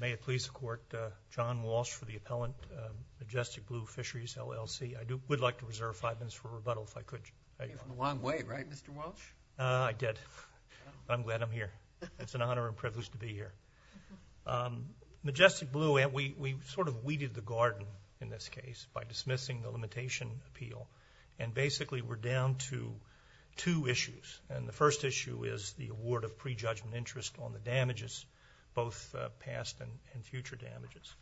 May it please the Court, John Walsh for the appellant, Majestic Blue Fisheries, LLC. I would like to reserve five minutes for rebuttal, if I could. You came from a long way, right, Mr. Walsh? I did. I'm glad I'm here. It's an honor and privilege to be here. Majestic Blue, we sort of weeded the garden in this case by dismissing the limitation appeal, and basically we're down to two issues. And the first issue is the award of prejudgment interest on the damages, both past and future damages.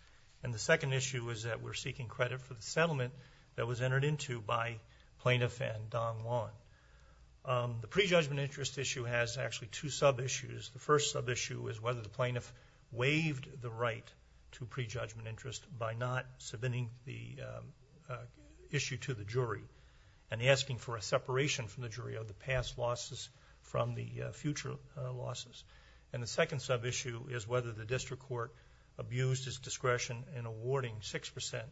And the second issue is that we're seeking credit for the settlement that was entered into by Plaintiff and Don Long. The prejudgment interest issue has actually two sub-issues. The first sub-issue is whether the plaintiff waived the right to prejudgment interest by not submitting the issue to the jury and asking for a separation from the jury of the past losses from the future losses. And the second sub-issue is whether the district court abused its discretion in awarding 6%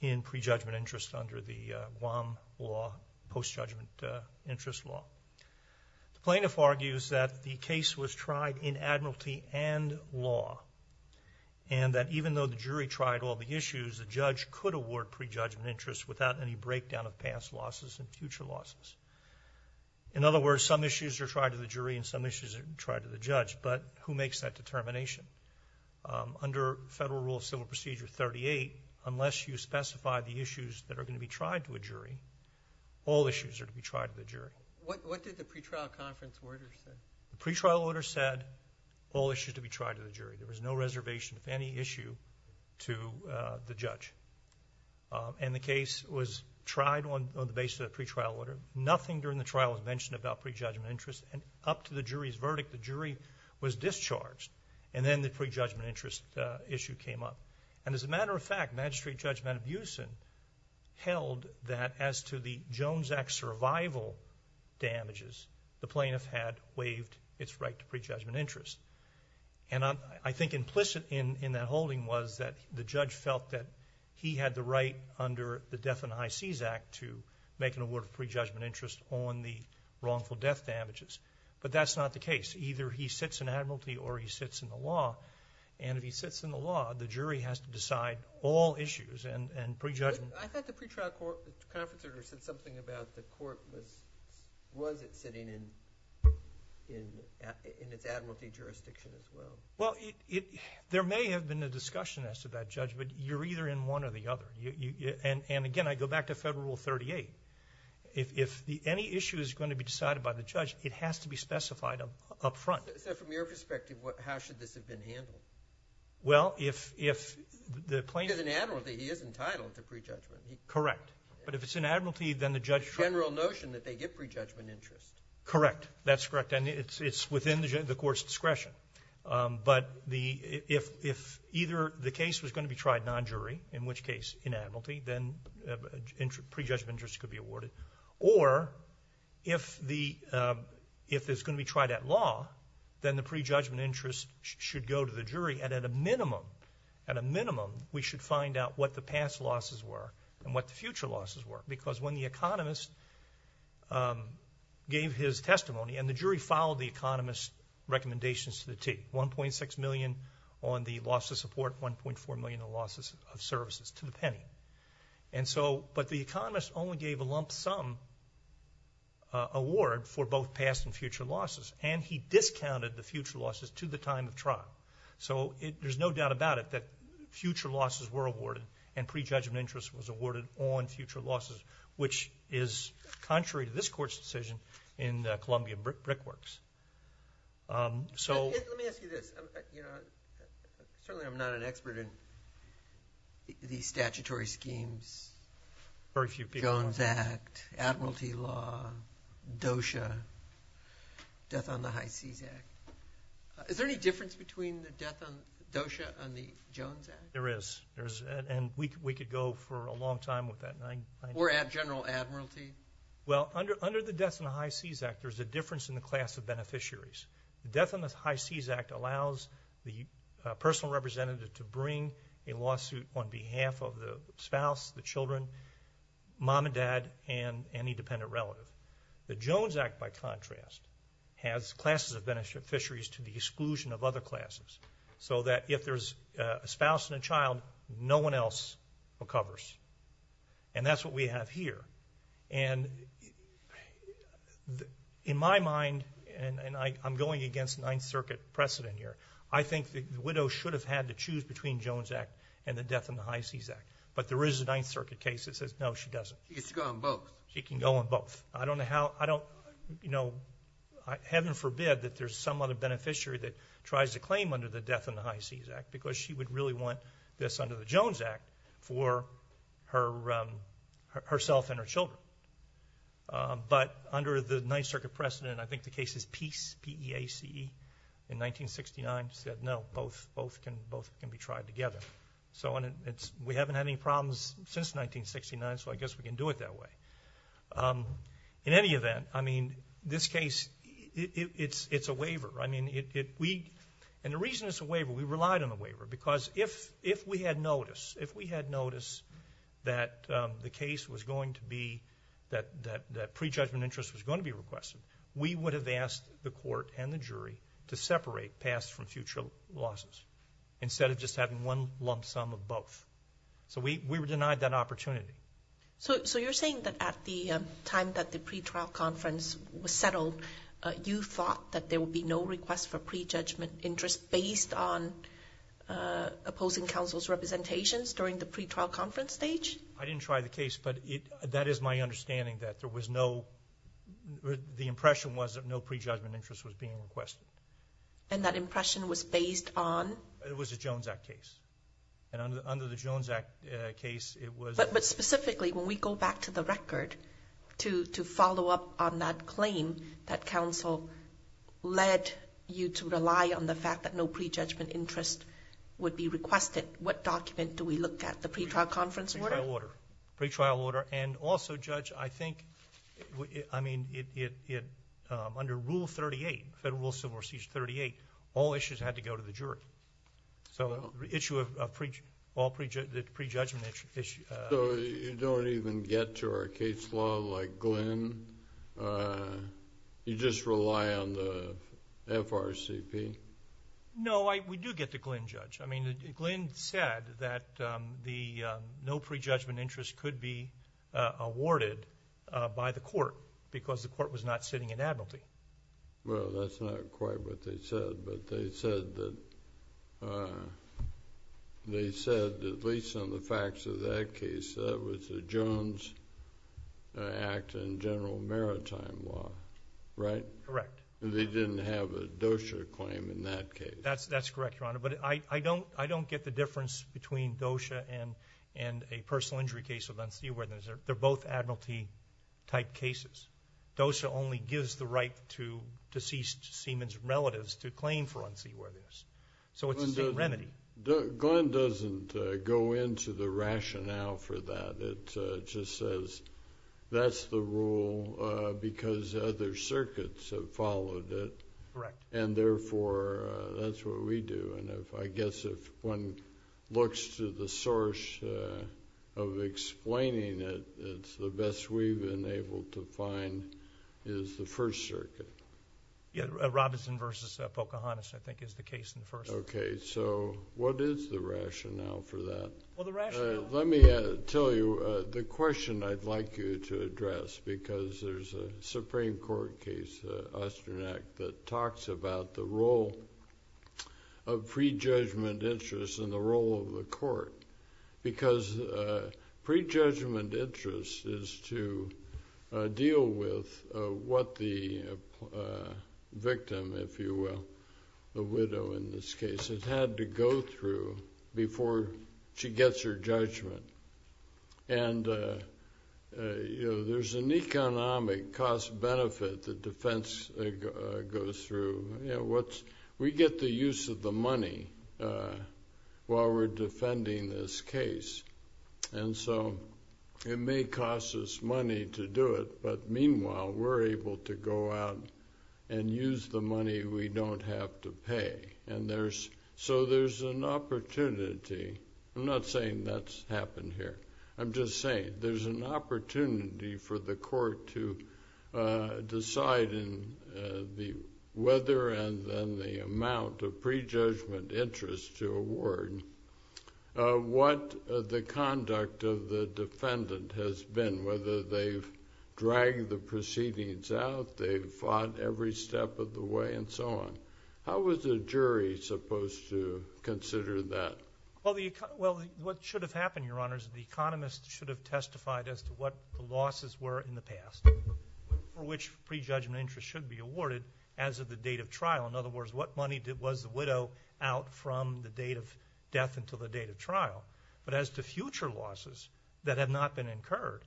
in prejudgment interest under the Guam law, post-judgment interest law. The plaintiff argues that the case was tried in admiralty and law, and that even though the jury tried all the issues, the judge could award prejudgment interest without any breakdown of past losses and future losses. In other words, some issues are tried to the jury and some issues are tried to the judge, but who makes that determination? Under Federal Rule of Civil Procedure 38, unless you specify the issues that are going to be tried to a jury, all issues are to be tried to the jury. What did the pretrial conference order say? There was no reservation of any issue to the judge. And the case was tried on the basis of a pretrial order. Nothing during the trial was mentioned about prejudgment interest. And up to the jury's verdict, the jury was discharged. And then the prejudgment interest issue came up. And as a matter of fact, Magistrate Judge Manbusen held that as to the Jones Act survival damages, the plaintiff had waived its right to prejudgment interest. And I think implicit in that holding was that the judge felt that he had the right under the Death and High Seas Act to make an award of prejudgment interest on the wrongful death damages. But that's not the case. Either he sits in admiralty or he sits in the law. And if he sits in the law, the jury has to decide all issues and prejudgment. I thought the pretrial conference order said something about the court was it sitting in its admiralty jurisdiction as well. Well, there may have been a discussion as to that, Judge, but you're either in one or the other. And, again, I go back to Federal Rule 38. If any issue is going to be decided by the judge, it has to be specified up front. So from your perspective, how should this have been handled? Well, if the plaintiff- If he's in admiralty, he is entitled to prejudgment. Correct. But if it's in admiralty, then the judge- The general notion that they get prejudgment interest. Correct. That's correct. And it's within the court's discretion. But if either the case was going to be tried non-jury, in which case in admiralty, then prejudgment interest could be awarded. Or if it's going to be tried at law, then the prejudgment interest should go to the jury. And at a minimum, at a minimum, we should find out what the past losses were and what the future losses were. Because when the economist gave his testimony, and the jury followed the economist's recommendations to the T, $1.6 million on the loss of support, $1.4 million on losses of services to the penny. And so, but the economist only gave a lump sum award for both past and future losses. And he discounted the future losses to the time of trial. So there's no doubt about it that future losses were awarded and prejudgment interest was awarded on future losses, which is contrary to this court's decision in Columbia Brickworks. Let me ask you this. You know, certainly I'm not an expert in these statutory schemes. Very few people are. Jones Act, Admiralty Law, DOSHA, Death on the High Seas Act. Is there any difference between the DOSHA and the Jones Act? There is. And we could go for a long time with that. Or General Admiralty? Well, under the Death on the High Seas Act, there's a difference in the class of beneficiaries. The Death on the High Seas Act allows the personal representative to bring a lawsuit on behalf of the spouse, the children, mom and dad, and any dependent relative. The Jones Act, by contrast, has classes of beneficiaries to the exclusion of other classes, so that if there's a spouse and a child, no one else recovers. And that's what we have here. And in my mind, and I'm going against Ninth Circuit precedent here, I think the widow should have had to choose between Jones Act and the Death on the High Seas Act. But there is a Ninth Circuit case that says, no, she doesn't. She gets to go on both. She can go on both. I don't know how. You know, heaven forbid that there's some other beneficiary that tries to claim under the Death on the High Seas Act because she would really want this under the Jones Act for herself and her children. But under the Ninth Circuit precedent, I think the case is Peace, P-E-A-C-E, in 1969, said, no, both can be tried together. So we haven't had any problems since 1969, so I guess we can do it that way. In any event, I mean, this case, it's a waiver. I mean, and the reason it's a waiver, we relied on the waiver, because if we had noticed, if we had noticed that the case was going to be, that prejudgment interest was going to be requested, we would have asked the court and the jury to separate pass from future losses instead of just having one lump sum of both. So we were denied that opportunity. So you're saying that at the time that the pretrial conference was settled, you thought that there would be no request for prejudgment interest based on opposing counsel's representations during the pretrial conference stage? I didn't try the case, but that is my understanding, that there was no, the impression was that no prejudgment interest was being requested. And that impression was based on? It was a Jones Act case. And under the Jones Act case, it was. But specifically, when we go back to the record to follow up on that claim that counsel led you to rely on the fact that no prejudgment interest would be requested, what document do we look at, the pretrial conference order? Pretrial order. And also, Judge, I think, I mean, under Rule 38, Federal Rule of Civil Procedure 38, all issues had to go to the jury. So the issue of all prejudgment issues... So you don't even get to our case law like Glynn? You just rely on the FRCP? No, we do get the Glynn judge. I mean, Glynn said that the no prejudgment interest could be awarded by the court because the court was not sitting in admiralty. Well, that's not quite what they said. But they said that, at least on the facts of that case, that was a Jones Act and general maritime law, right? Correct. They didn't have a DOSHA claim in that case. That's correct, Your Honor. But I don't get the difference between DOSHA and a personal injury case with unseated weapons. They're both admiralty-type cases. DOSHA only gives the right to deceased seamen's relatives to claim for unseated weapons. So it's the same remedy. Glynn doesn't go into the rationale for that. It just says that's the rule because other circuits have followed it. Correct. And, therefore, that's what we do. And I guess if one looks to the source of explaining it, it's the best we've been able to find is the First Circuit. Yeah, Robinson v. Pocahontas, I think, is the case in the First Circuit. Okay. So what is the rationale for that? Well, the rationale— Let me tell you the question I'd like you to address because there's a Supreme Court case, Austern Act, because prejudgment interest is to deal with what the victim, if you will, the widow in this case, has had to go through before she gets her judgment. And there's an economic cost-benefit the defense goes through. We get the use of the money while we're defending this case, and so it may cost us money to do it. But, meanwhile, we're able to go out and use the money we don't have to pay. So there's an opportunity. I'm not saying that's happened here. I'm just saying there's an opportunity for the court to decide in the weather and then the amount of prejudgment interest to award what the conduct of the defendant has been, whether they've dragged the proceedings out, they've fought every step of the way, and so on. How is a jury supposed to consider that? Well, what should have happened, Your Honors, the economist should have testified as to what the losses were in the past for which prejudgment interest should be awarded as of the date of trial. In other words, what money was the widow out from the date of death until the date of trial? But as to future losses that have not been incurred,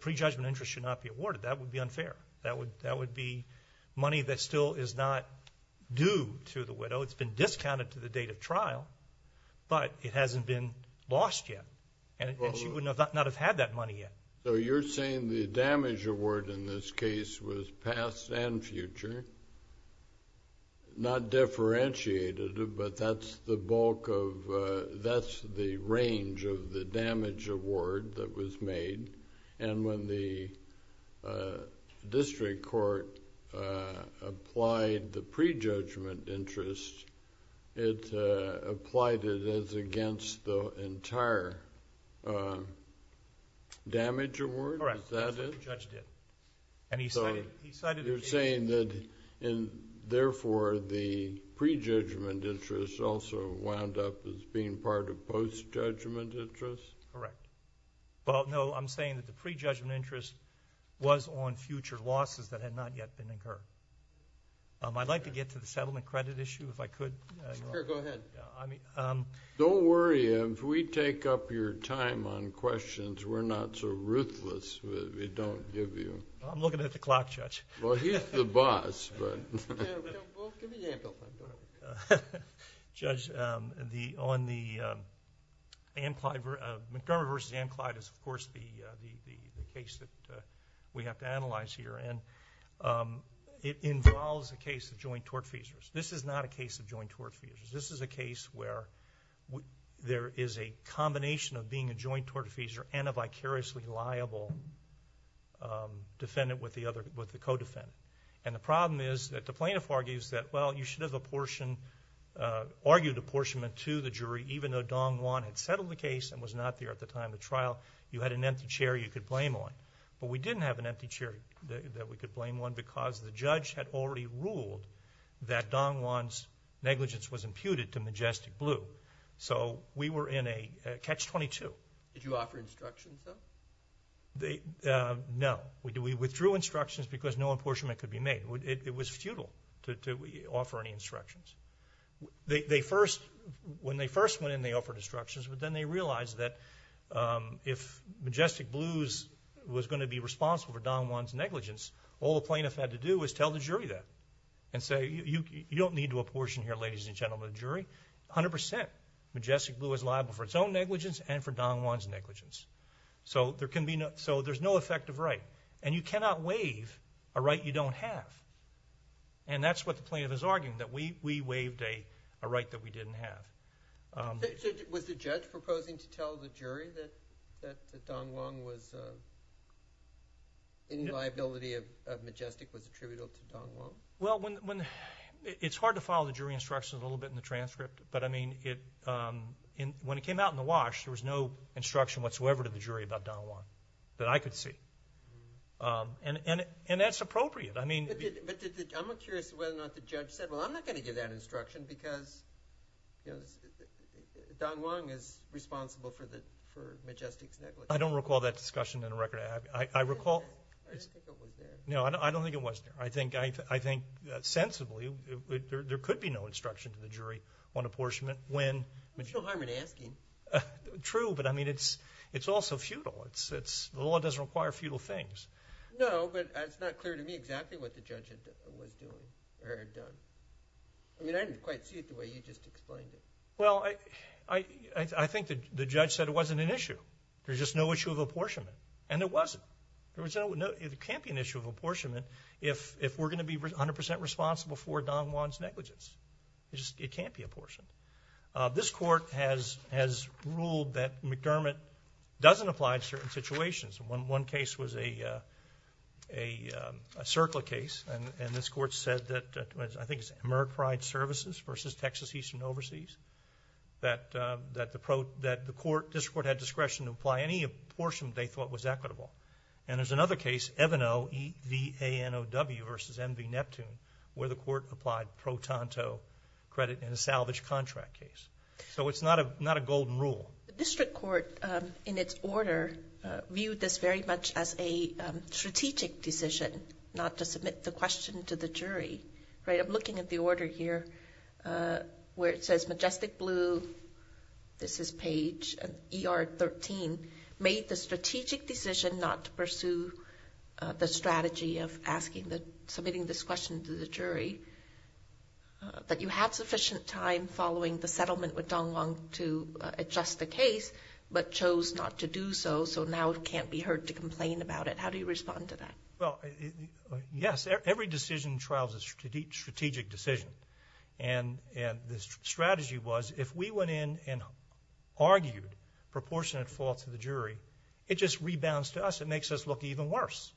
prejudgment interest should not be awarded. That would be unfair. That would be money that still is not due to the widow. It's been discounted to the date of trial, but it hasn't been lost yet, and she would not have had that money yet. So you're saying the damage award in this case was past and future, not differentiated, but that's the bulk of, that's the range of the damage award that was made, and when the district court applied the prejudgment interest, it applied it as against the entire damage award? Correct. Is that it? That's what the judge did, and he cited it. So you're saying that, therefore, the prejudgment interest also wound up as being part of post-judgment interest? Correct. Well, no, I'm saying that the prejudgment interest was on future losses that had not yet been incurred. I'd like to get to the settlement credit issue, if I could. Sure, go ahead. Don't worry. If we take up your time on questions, we're not so ruthless if we don't give you. I'm looking at the clock, Judge. Well, he's the boss. Well, give me the ample time. Judge, on the McCormick v. Ann Clyde is, of course, the case that we have to analyze here, and it involves a case of joint tort feasors. This is not a case of joint tort feasors. This is a case where there is a combination of being a joint tort feasor and a vicariously liable defendant with the co-defendant. And the problem is that the plaintiff argues that, well, you should have argued apportionment to the jury, even though Dong Wan had settled the case and was not there at the time of the trial. You had an empty chair you could blame on. But we didn't have an empty chair that we could blame on because the judge had already ruled that Dong Wan's negligence was imputed to Majestic Blue. So we were in a catch-22. Did you offer instructions, though? No. We withdrew instructions because no apportionment could be made. It was futile to offer any instructions. When they first went in, they offered instructions, but then they realized that if Majestic Blue was going to be responsible for Dong Wan's negligence, all the plaintiff had to do was tell the jury that and say, you don't need to apportion here, ladies and gentlemen of the jury. A hundred percent, Majestic Blue is liable for its own negligence and for Dong Wan's negligence. So there's no effective right. And you cannot waive a right you don't have. And that's what the plaintiff is arguing, that we waived a right that we didn't have. Was the judge proposing to tell the jury that Dong Wan was in liability of Majestic, was attributable to Dong Wan? Well, it's hard to follow the jury instructions a little bit in the transcript, but, I mean, when it came out in the wash, there was no instruction whatsoever to the jury about Dong Wan that I could see. And that's appropriate. But I'm curious whether or not the judge said, well, I'm not going to give that instruction because Dong Wan is responsible for Majestic's negligence. I don't recall that discussion in the record. I recall – I don't think it was there. No, I don't think it was there. I think sensibly there could be no instruction to the jury on apportionment when – There's no harm in asking. True, but, I mean, it's also futile. The law doesn't require futile things. No, but it's not clear to me exactly what the judge was doing or had done. I mean, I didn't quite see it the way you just explained it. Well, I think the judge said it wasn't an issue. There's just no issue of apportionment, and there wasn't. There can't be an issue of apportionment if we're going to be 100 percent responsible for Dong Wan's negligence. It can't be apportioned. This court has ruled that McDermott doesn't apply to certain situations. One case was a CERCLA case, and this court said that, I think it was AmeriPride Services versus Texas Eastern Overseas, that the court – the district court had discretion to apply any apportionment they thought was equitable. And there's another case, Evano, E-V-A-N-O-W versus MV Neptune, where the court applied pro tanto credit in a salvage contract case. So it's not a golden rule. The district court, in its order, viewed this very much as a strategic decision, not to submit the question to the jury. I'm looking at the order here where it says Majestic Blue – this is Page – ER 13 made the strategic decision not to pursue the strategy of submitting this question to the jury, that you had sufficient time following the settlement with Dong Wan to adjust the case, but chose not to do so, so now it can't be heard to complain about it. How do you respond to that? Well, yes, every decision in trial is a strategic decision. And the strategy was, if we went in and argued proportionate fault to the jury, it just rebounds to us. It makes us look even worse.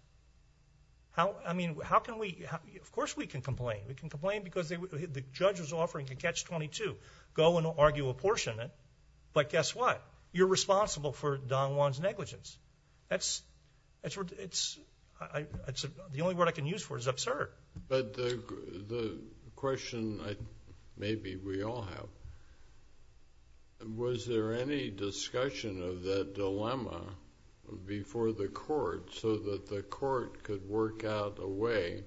I mean, how can we – of course we can complain. We can complain because the judge was offering to catch 22. Go and argue apportionment, but guess what? You're responsible for Dong Wan's negligence. That's – the only word I can use for it is absurd. But the question maybe we all have, was there any discussion of that dilemma before the court so that the court could work out a way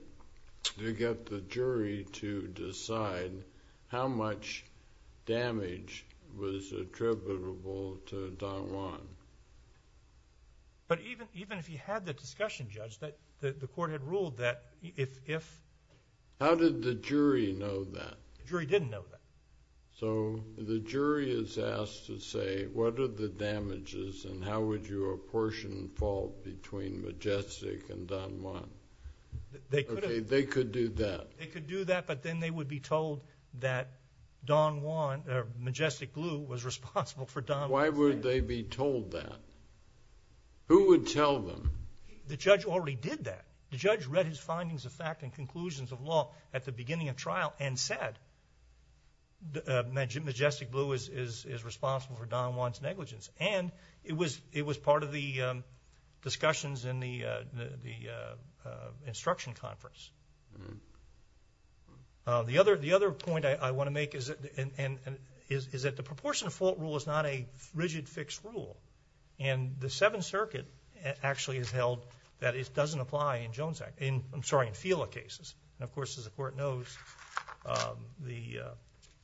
to get the jury to decide how much damage was attributable to Dong Wan? But even if you had the discussion, Judge, the court had ruled that if – How did the jury know that? The jury didn't know that. So the jury is asked to say, what are the damages and how would you apportion fault between Majestic and Dong Wan? They could have – Okay, they could do that. They could do that, but then they would be told that Dong Wan – Majestic Blue was responsible for Dong Wan's negligence. Why would they be told that? Who would tell them? The judge already did that. The judge read his findings of fact and conclusions of law at the beginning of trial and said Majestic Blue is responsible for Dong Wan's negligence. And it was part of the discussions in the instruction conference. The other point I want to make is that the proportion of fault rule is not a rigid, fixed rule. And the Seventh Circuit actually has held that it doesn't apply in Jones Act – I'm sorry, in FILA cases. And, of course, as the Court knows, the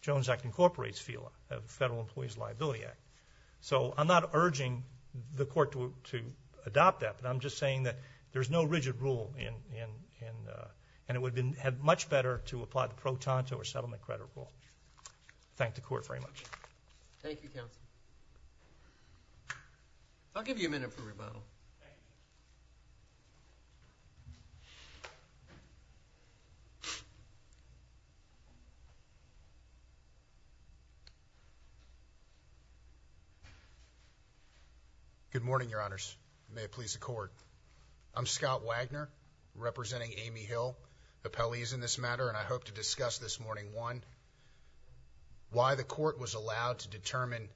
Jones Act incorporates FILA, the Federal Employees' Liability Act. So I'm not urging the Court to adopt that, but I'm just saying that there's no rigid rule and it would have been much better to apply the pro tanto or settlement credit rule. Thank the Court very much. I'll give you a minute for rebuttal. Thank you. Good morning, Your Honors. May it please the Court. I'm Scott Wagner, representing Amy Hill, appellees in this matter, why the Court was allowed to determine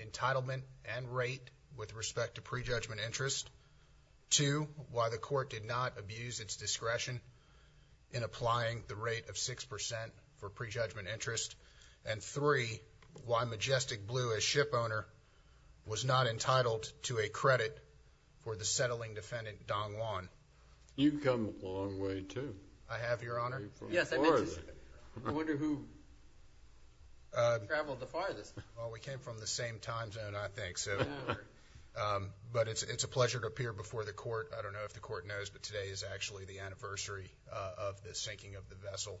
entitlement and rate with respect to prejudgment interest, two, why the Court did not abuse its discretion in applying the rate of 6% for prejudgment interest, and three, why Majestic Blue, as shipowner, was not entitled to a credit for the settling defendant, Dong Wan. You've come a long way, too. I have, Your Honor. Yes, I mentioned. I wonder who traveled the farthest. Well, we came from the same time zone, I think. But it's a pleasure to appear before the Court. I don't know if the Court knows, but today is actually the anniversary of the sinking of the vessel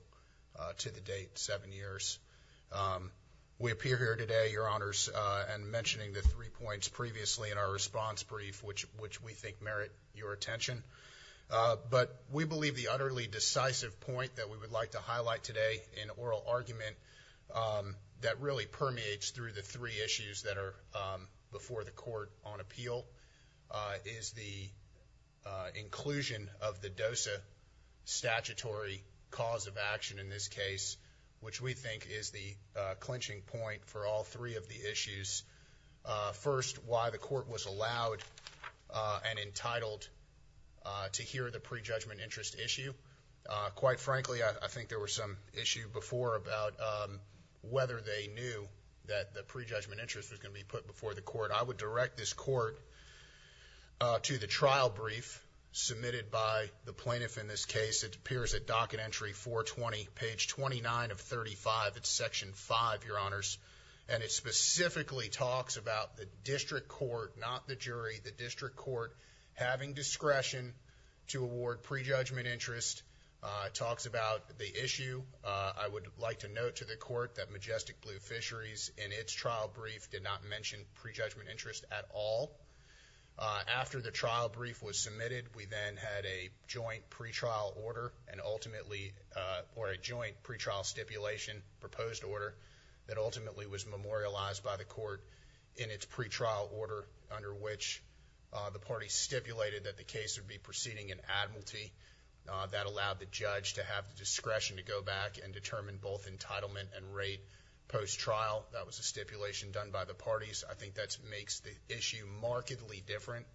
to the date seven years. We appear here today, Your Honors, and mentioning the three points previously in our response brief, which we think merit your attention. But we believe the utterly decisive point that we would like to highlight today in oral argument that really permeates through the three issues that are before the Court on appeal is the inclusion of the DOSA statutory cause of action in this case, which we think is the clinching point for all three of the issues. First, why the Court was allowed and entitled to hear the pre-judgment interest issue. Quite frankly, I think there was some issue before about whether they knew that the pre-judgment interest was going to be put before the Court. I would direct this Court to the trial brief submitted by the plaintiff in this case. It appears at docket entry 420, page 29 of 35. It's section 5, Your Honors. And it specifically talks about the district court, not the jury, the district court, having discretion to award pre-judgment interest. It talks about the issue. I would like to note to the Court that Majestic Blue Fisheries, in its trial brief, did not mention pre-judgment interest at all. After the trial brief was submitted, we then had a joint pre-trial order, or a joint pre-trial stipulation, proposed order, that ultimately was memorialized by the Court in its pre-trial order, under which the parties stipulated that the case would be proceeding in admiralty. That allowed the judge to have the discretion to go back and determine both entitlement and rate post-trial. That was a stipulation done by the parties. I think that makes the issue markedly different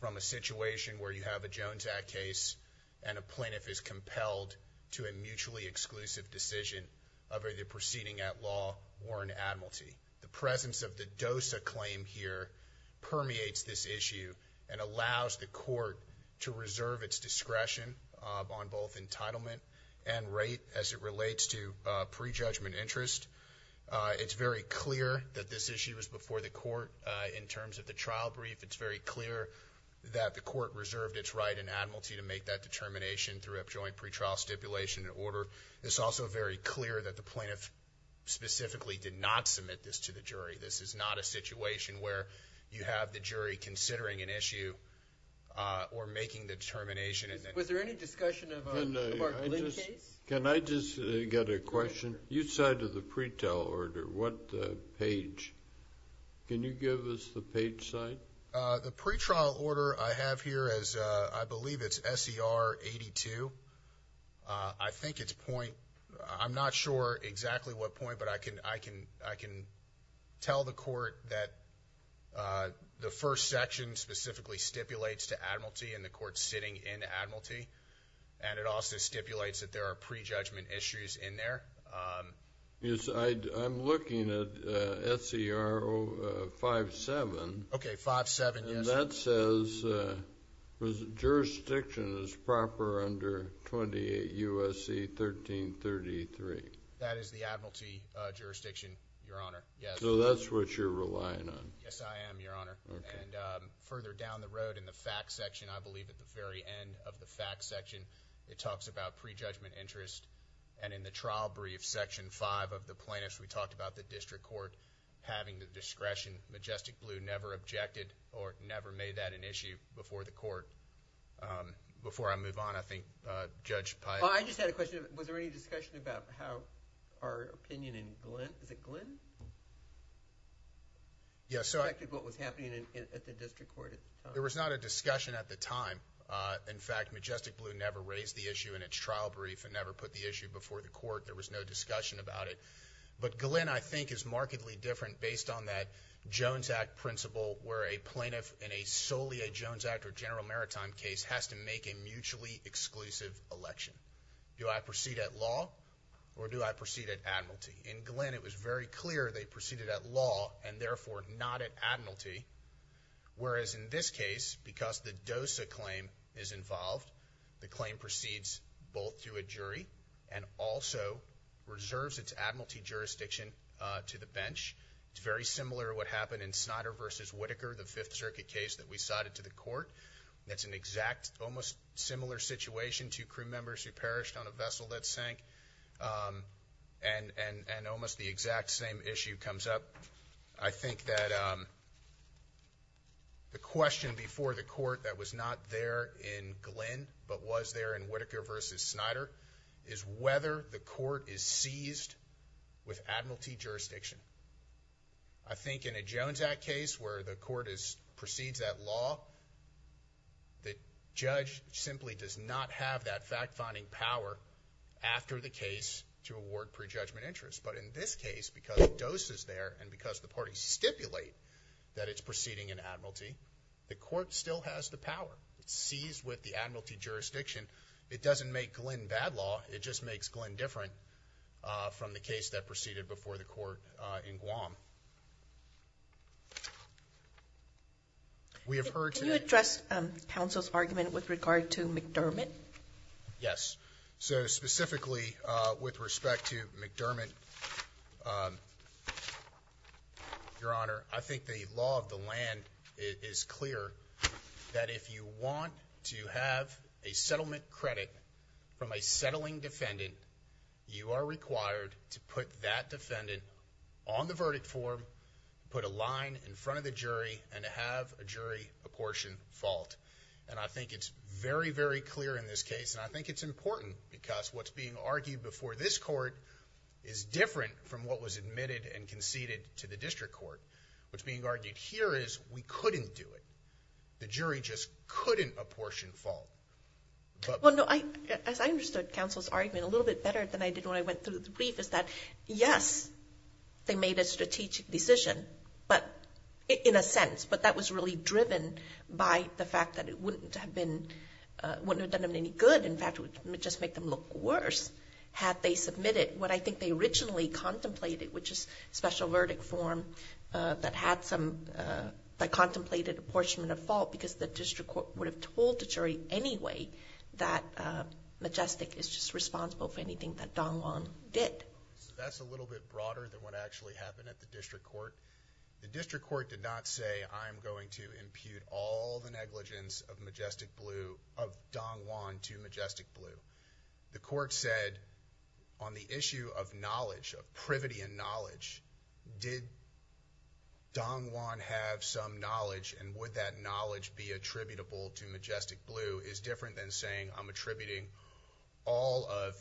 from a situation where you have a Jones Act case and a plaintiff is compelled to a mutually exclusive decision of either proceeding at law or in admiralty. The presence of the DOSA claim here permeates this issue and allows the Court to reserve its discretion on both entitlement and rate as it relates to pre-judgment interest. It's very clear that this issue was before the Court in terms of the trial brief. It's very clear that the Court reserved its right in admiralty to make that determination through a joint pre-trial stipulation and order. It's also very clear that the plaintiff specifically did not submit this to the jury. This is not a situation where you have the jury considering an issue or making the determination. Was there any discussion about Lynn Chase? Can I just get a question? You cited the pre-trial order. What page? Can you give us the page size? The pre-trial order I have here, I believe it's SER 82. I think it's point. I'm not sure exactly what point, but I can tell the Court that the first section specifically stipulates to admiralty and the Court's sitting in admiralty, and it also stipulates that there are pre-judgment issues in there. Yes, I'm looking at SER 57. Okay, 57, yes. And that says jurisdiction is proper under 28 U.S.C. 1333. That is the admiralty jurisdiction, Your Honor, yes. So that's what you're relying on. Yes, I am, Your Honor. Okay. And further down the road in the facts section, I believe at the very end of the facts section, it talks about pre-judgment interest. And in the trial brief, Section 5 of the plaintiffs, we talked about the district court having the discretion. Majestic Blue never objected or never made that an issue before the court. Before I move on, I think Judge Pyatt. I just had a question. Was there any discussion about how our opinion in Glynn, is it Glynn? Yes. What was happening at the district court? There was not a discussion at the time. In fact, Majestic Blue never raised the issue in its trial brief and never put the issue before the court. There was no discussion about it. But Glynn, I think, is markedly different based on that Jones Act principle where a plaintiff in a solely a Jones Act or general maritime case has to make a mutually exclusive election. Do I proceed at law or do I proceed at admiralty? In Glynn, it was very clear they proceeded at law and, therefore, not at admiralty. Whereas in this case, because the DOSA claim is involved, the claim proceeds both through a jury and also reserves its admiralty jurisdiction to the bench. It's very similar to what happened in Snyder v. Whitaker, the Fifth Circuit case that we cited to the court. That's an exact, almost similar situation, two crew members who perished on a vessel that sank and almost the exact same issue comes up. I think that the question before the court that was not there in Glynn but was there in Whitaker v. Snyder is whether the court is seized with admiralty jurisdiction. I think in a Jones Act case where the court proceeds at law, the judge simply does not have that fact-finding power after the case to award prejudgment interest. But in this case, because DOSA is there and because the parties stipulate that it's proceeding in admiralty, the court still has the power. It's seized with the admiralty jurisdiction. It doesn't make Glynn bad law. It just makes Glynn different from the case that proceeded before the court in Guam. Can you address counsel's argument with regard to McDermott? Yes. So specifically with respect to McDermott, Your Honor, I think the law of the land is clear that if you want to have a settlement credit from a settling defendant, you are required to put that defendant on the verdict form, put a line in front of the jury, and have a jury apportion fault. And I think it's very, very clear in this case. And I think it's important because what's being argued before this court is different from what was admitted and conceded to the district court. What's being argued here is we couldn't do it. The jury just couldn't apportion fault. As I understood counsel's argument a little bit better than I did when I went through the brief is that, yes, they made a strategic decision, in a sense, but that was really driven by the fact that it wouldn't have done them any good. In fact, it would just make them look worse had they submitted what I think they originally contemplated, which is special verdict form that contemplated apportionment of fault because the district court would have told the jury anyway that Majestic is just responsible for anything that Don Juan did. That's a little bit broader than what actually happened at the district court. The district court did not say I'm going to impute all the negligence of Majestic Blue, of Don Juan to Majestic Blue. The court said on the issue of knowledge, of privity and knowledge, did Don Juan have some knowledge and would that knowledge be attributable to Majestic Blue is different than saying I'm attributing all of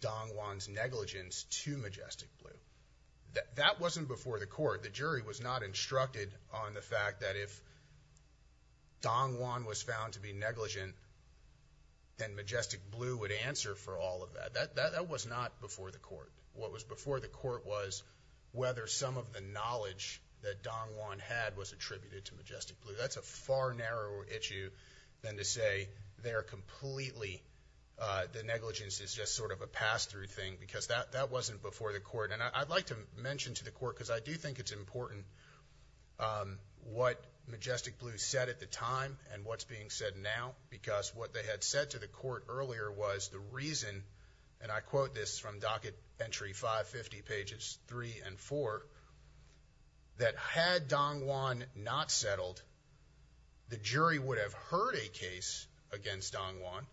Don Juan's negligence to Majestic Blue. That wasn't before the court. The jury was not instructed on the fact that if Don Juan was found to be negligent, then Majestic Blue would answer for all of that. That was not before the court. What was before the court was whether some of the knowledge that Don Juan had was attributed to Majestic Blue. That's a far narrower issue than to say they are completely, the negligence is just sort of a pass-through thing because that wasn't before the court. I'd like to mention to the court because I do think it's important what Majestic Blue said at the time and what's being said now because what they had said to the court earlier was the reason, and I quote this from docket entry 550 pages 3 and 4, that had Don Juan not settled, the jury would have heard a case against Don Juan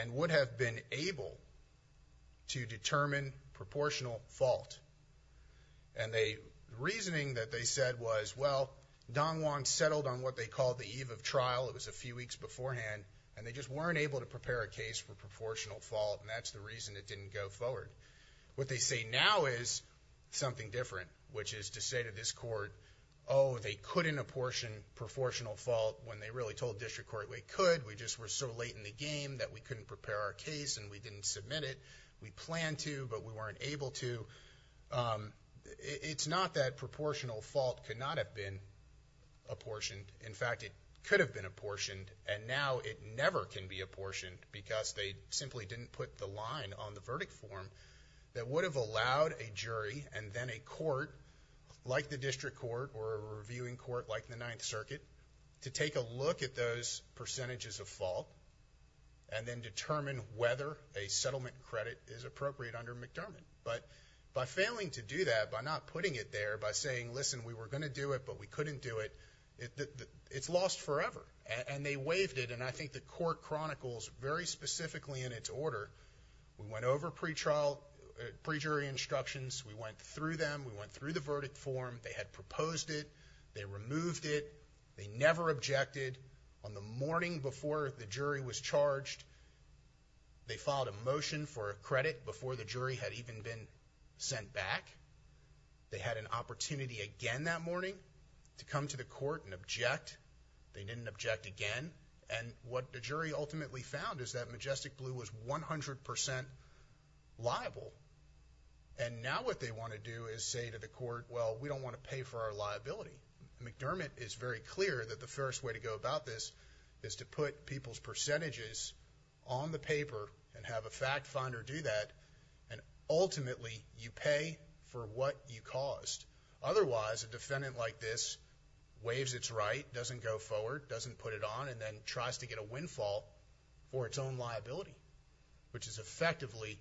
and would have been able to determine proportional fault. And the reasoning that they said was, well, Don Juan settled on what they called the eve of trial. It was a few weeks beforehand, and they just weren't able to prepare a case for proportional fault, and that's the reason it didn't go forward. What they say now is something different, which is to say to this court, oh, they couldn't apportion proportional fault when they really told district court they could. We just were so late in the game that we couldn't prepare our case and we didn't submit it. We planned to, but we weren't able to. It's not that proportional fault could not have been apportioned. In fact, it could have been apportioned, and now it never can be apportioned because they simply didn't put the line on the verdict form that would have allowed a jury and then a court like the district court or a reviewing court like the Ninth Circuit to take a look at those percentages of fault and then determine whether a settlement credit is appropriate under McDermott. But by failing to do that, by not putting it there, by saying, listen, we were going to do it, but we couldn't do it, it's lost forever. And they waived it, and I think the court chronicles very specifically in its order, we went over pre-trial, pre-jury instructions, we went through them, we went through the verdict form, they had proposed it, they removed it, they never objected. On the morning before the jury was charged, they filed a motion for a credit before the jury had even been sent back. They had an opportunity again that morning to come to the court and object. They didn't object again, and what the jury ultimately found is that Majestic Blue was 100% liable. And now what they want to do is say to the court, well, we don't want to pay for our liability. McDermott is very clear that the first way to go about this is to put people's percentages on the paper and have a fact finder do that, and ultimately you pay for what you caused. Otherwise, a defendant like this waives its right, doesn't go forward, doesn't put it on, and then tries to get a windfall for its own liability, which is effectively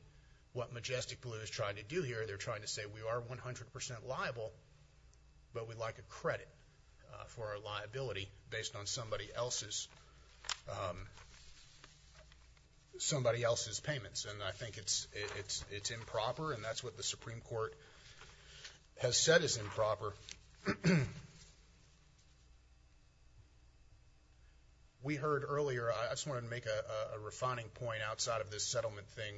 what Majestic Blue is trying to do here. They're trying to say we are 100% liable, but we'd like a credit for our liability based on somebody else's payments, and I think it's improper, and that's what the Supreme Court has said is improper. We heard earlier, I just wanted to make a refining point outside of this settlement thing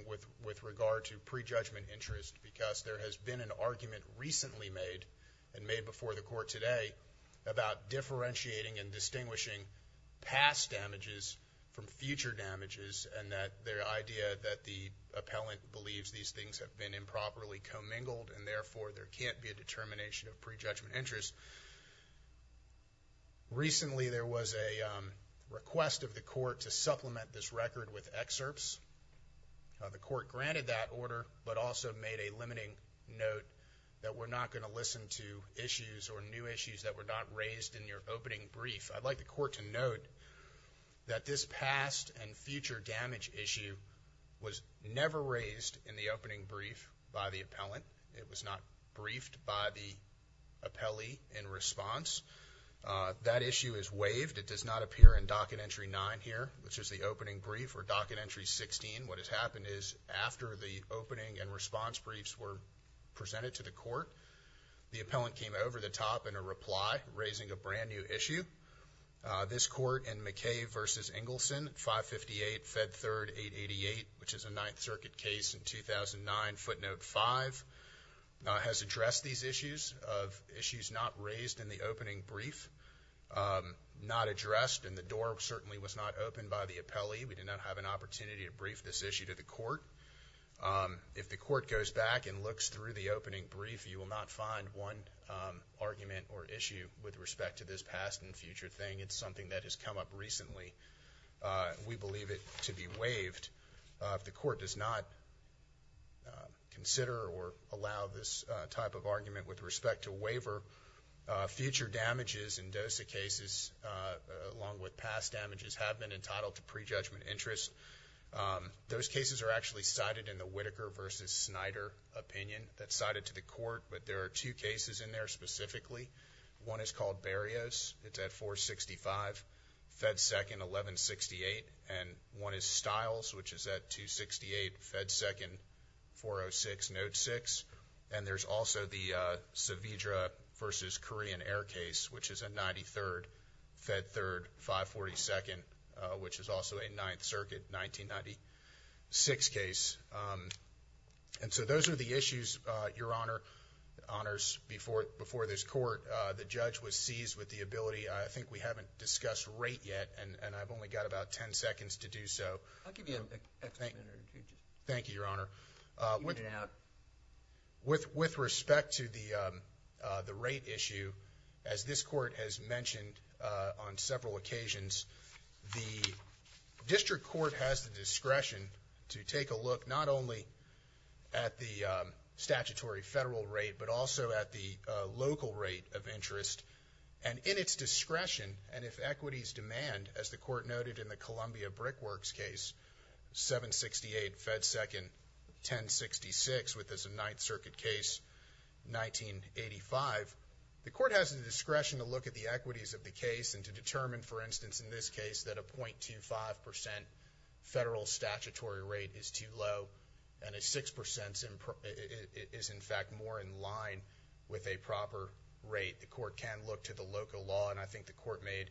with regard to prejudgment interest, because there has been an argument recently made and made before the court today about differentiating and distinguishing past damages from future damages, and that their idea that the appellant believes these things have been improperly commingled, and therefore there can't be a determination of prejudgment interest. Recently there was a request of the court to supplement this record with excerpts. The court granted that order, but also made a limiting note that we're not going to listen to issues or new issues that were not raised in your opening brief. I'd like the court to note that this past and future damage issue was never raised in the opening brief by the appellant. It was not briefed by the appellee in response. That issue is waived. It does not appear in Docket Entry 9 here, which is the opening brief, or Docket Entry 16. What has happened is after the opening and response briefs were presented to the court, the appellant came over the top in a reply, raising a brand-new issue. This court in McKay v. Engelson, 558 Fed 3rd 888, which is a Ninth Circuit case in 2009, footnote 5, has addressed these issues of issues not raised in the opening brief, not addressed, and the door certainly was not opened by the appellee. We did not have an opportunity to brief this issue to the court. If the court goes back and looks through the opening brief, you will not find one argument or issue with respect to this past and future thing. It's something that has come up recently. We believe it to be waived. If the court does not consider or allow this type of argument with respect to waiver, future damages in DOSA cases, along with past damages, have been entitled to prejudgment interest. Those cases are actually cited in the Whitaker v. Snyder opinion that's cited to the court, but there are two cases in there specifically. One is called Berrios. It's at 465 Fed 2nd 1168, and one is Stiles, which is at 268 Fed 2nd 406, note 6. And there's also the Saavedra v. Korean Air case, which is at 93rd Fed 3rd 542nd, which is also a Ninth Circuit 1996 case. And so those are the issues, Your Honor, before this court. The judge was seized with the ability. I think we haven't discussed rate yet, and I've only got about 10 seconds to do so. I'll give you an extra minute or two. Thank you, Your Honor. With respect to the rate issue, as this court has mentioned on several occasions, the district court has the discretion to take a look not only at the statutory federal rate but also at the local rate of interest. And in its discretion, and if equities demand, as the court noted in the Columbia Brickworks case, 768 Fed 2nd 1066, which is a Ninth Circuit case, 1985, the court has the discretion to look at the equities of the case and to determine, for instance, in this case, that a 0.25% federal statutory rate is too low and a 6% is, in fact, more in line with a proper rate. The court can look to the local law, and I think the court made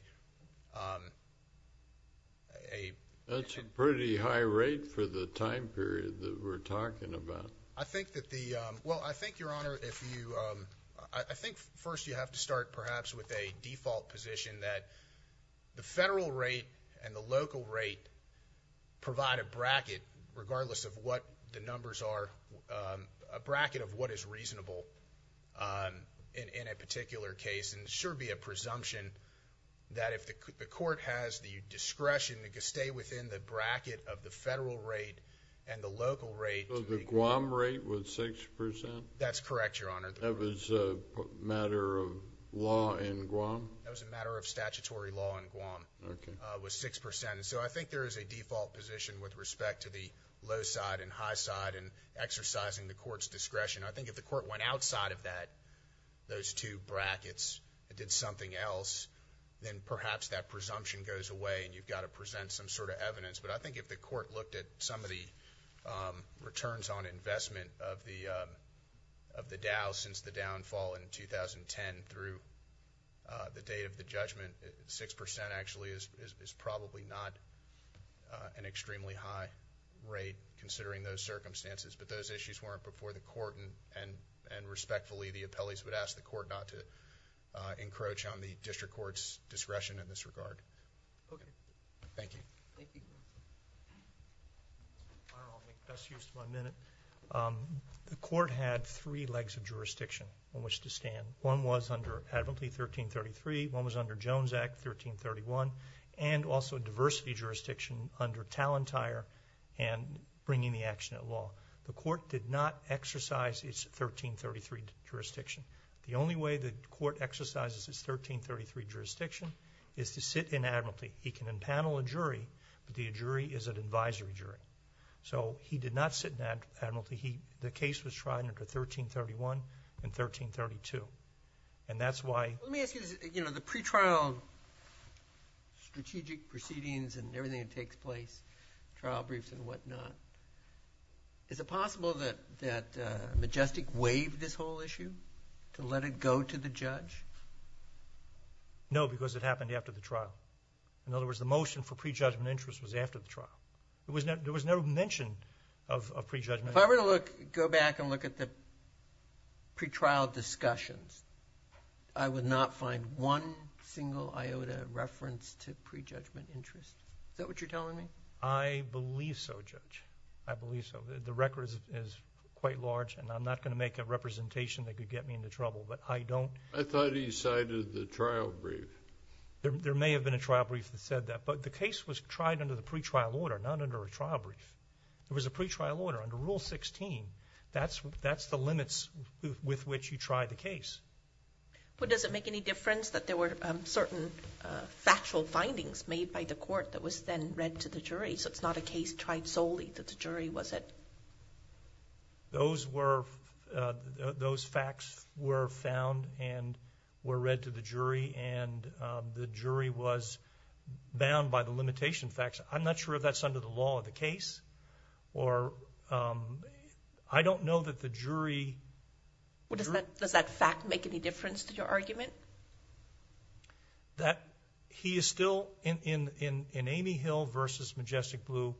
a... That's a pretty high rate for the time period that we're talking about. I think that the... Well, I think, Your Honor, if you... I think first you have to start perhaps with a default position that the federal rate and the local rate provide a bracket, regardless of what the numbers are, a bracket of what is reasonable in a particular case, and it should be a presumption that if the court has the discretion to stay within the bracket of the federal rate and the local rate... So the Guam rate was 6%? That's correct, Your Honor. That was a matter of law in Guam? That was a matter of statutory law in Guam. Okay. It was 6%, and so I think there is a default position with respect to the low side and high side and exercising the court's discretion. I think if the court went outside of that, those two brackets, and did something else, then perhaps that presumption goes away and you've got to present some sort of evidence. But I think if the court looked at some of the returns on investment of the Dow since the downfall in 2010 through the date of the judgment, 6% actually is probably not an extremely high rate, considering those circumstances. But those issues weren't before the court, discretion in this regard. Okay. Thank you. Thank you. All right, I'll make best use of my minute. The court had three legs of jurisdiction on which to stand. One was under Advocacy 1333, one was under Jones Act 1331, and also diversity jurisdiction under Talentire and bringing the action at law. The court did not exercise its 1333 jurisdiction. The only way the court exercises its 1333 jurisdiction is to sit in admiralty. He can impanel a jury, but the jury is an advisory jury. So he did not sit in admiralty. The case was tried under 1331 and 1332, and that's why. Let me ask you this. The pretrial strategic proceedings and everything that takes place, trial briefs and whatnot, is it possible that Majestic waived this whole issue to let it go to the judge? No, because it happened after the trial. In other words, the motion for prejudgment interest was after the trial. There was no mention of prejudgment. If I were to go back and look at the pretrial discussions, I would not find one single iota reference to prejudgment interest. Is that what you're telling me? I believe so, Judge. I believe so. The record is quite large, and I'm not going to make a representation that could get me into trouble, but I don't. I thought he cited the trial brief. There may have been a trial brief that said that, but the case was tried under the pretrial order, not under a trial brief. It was a pretrial order under Rule 16. That's the limits with which you try the case. But does it make any difference that there were certain factual findings made by the court that was then read to the jury, so it's not a case tried solely to the jury, was it? Those facts were found and were read to the jury, and the jury was bound by the limitation facts. I'm not sure if that's under the law of the case. I don't know that the jury. Does that fact make any difference to your argument? That he is still, in Amy Hill v. Majestic Blue,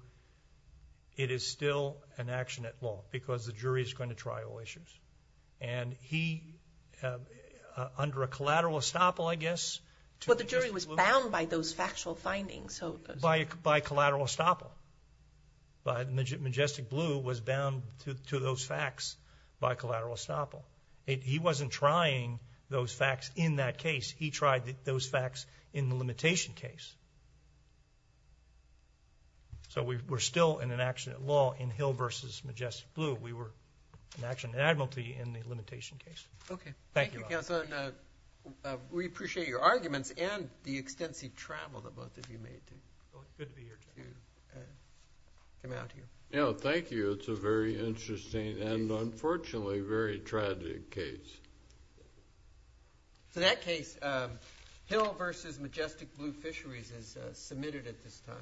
it is still an action at law because the jury is going to trial issues. And he, under a collateral estoppel, I guess, Well, the jury was bound by those factual findings. By collateral estoppel. Majestic Blue was bound to those facts by collateral estoppel. He wasn't trying those facts in that case. He tried those facts in the limitation case. So we're still in an action at law in Hill v. Majestic Blue. We were an action at admiralty in the limitation case. Okay. Thank you, counsel. We appreciate your arguments and the extensive travel that both of you made to come out here. Thank you. It's a very interesting and, unfortunately, very tragic case. For that case, Hill v. Majestic Blue Fisheries is submitted at this time.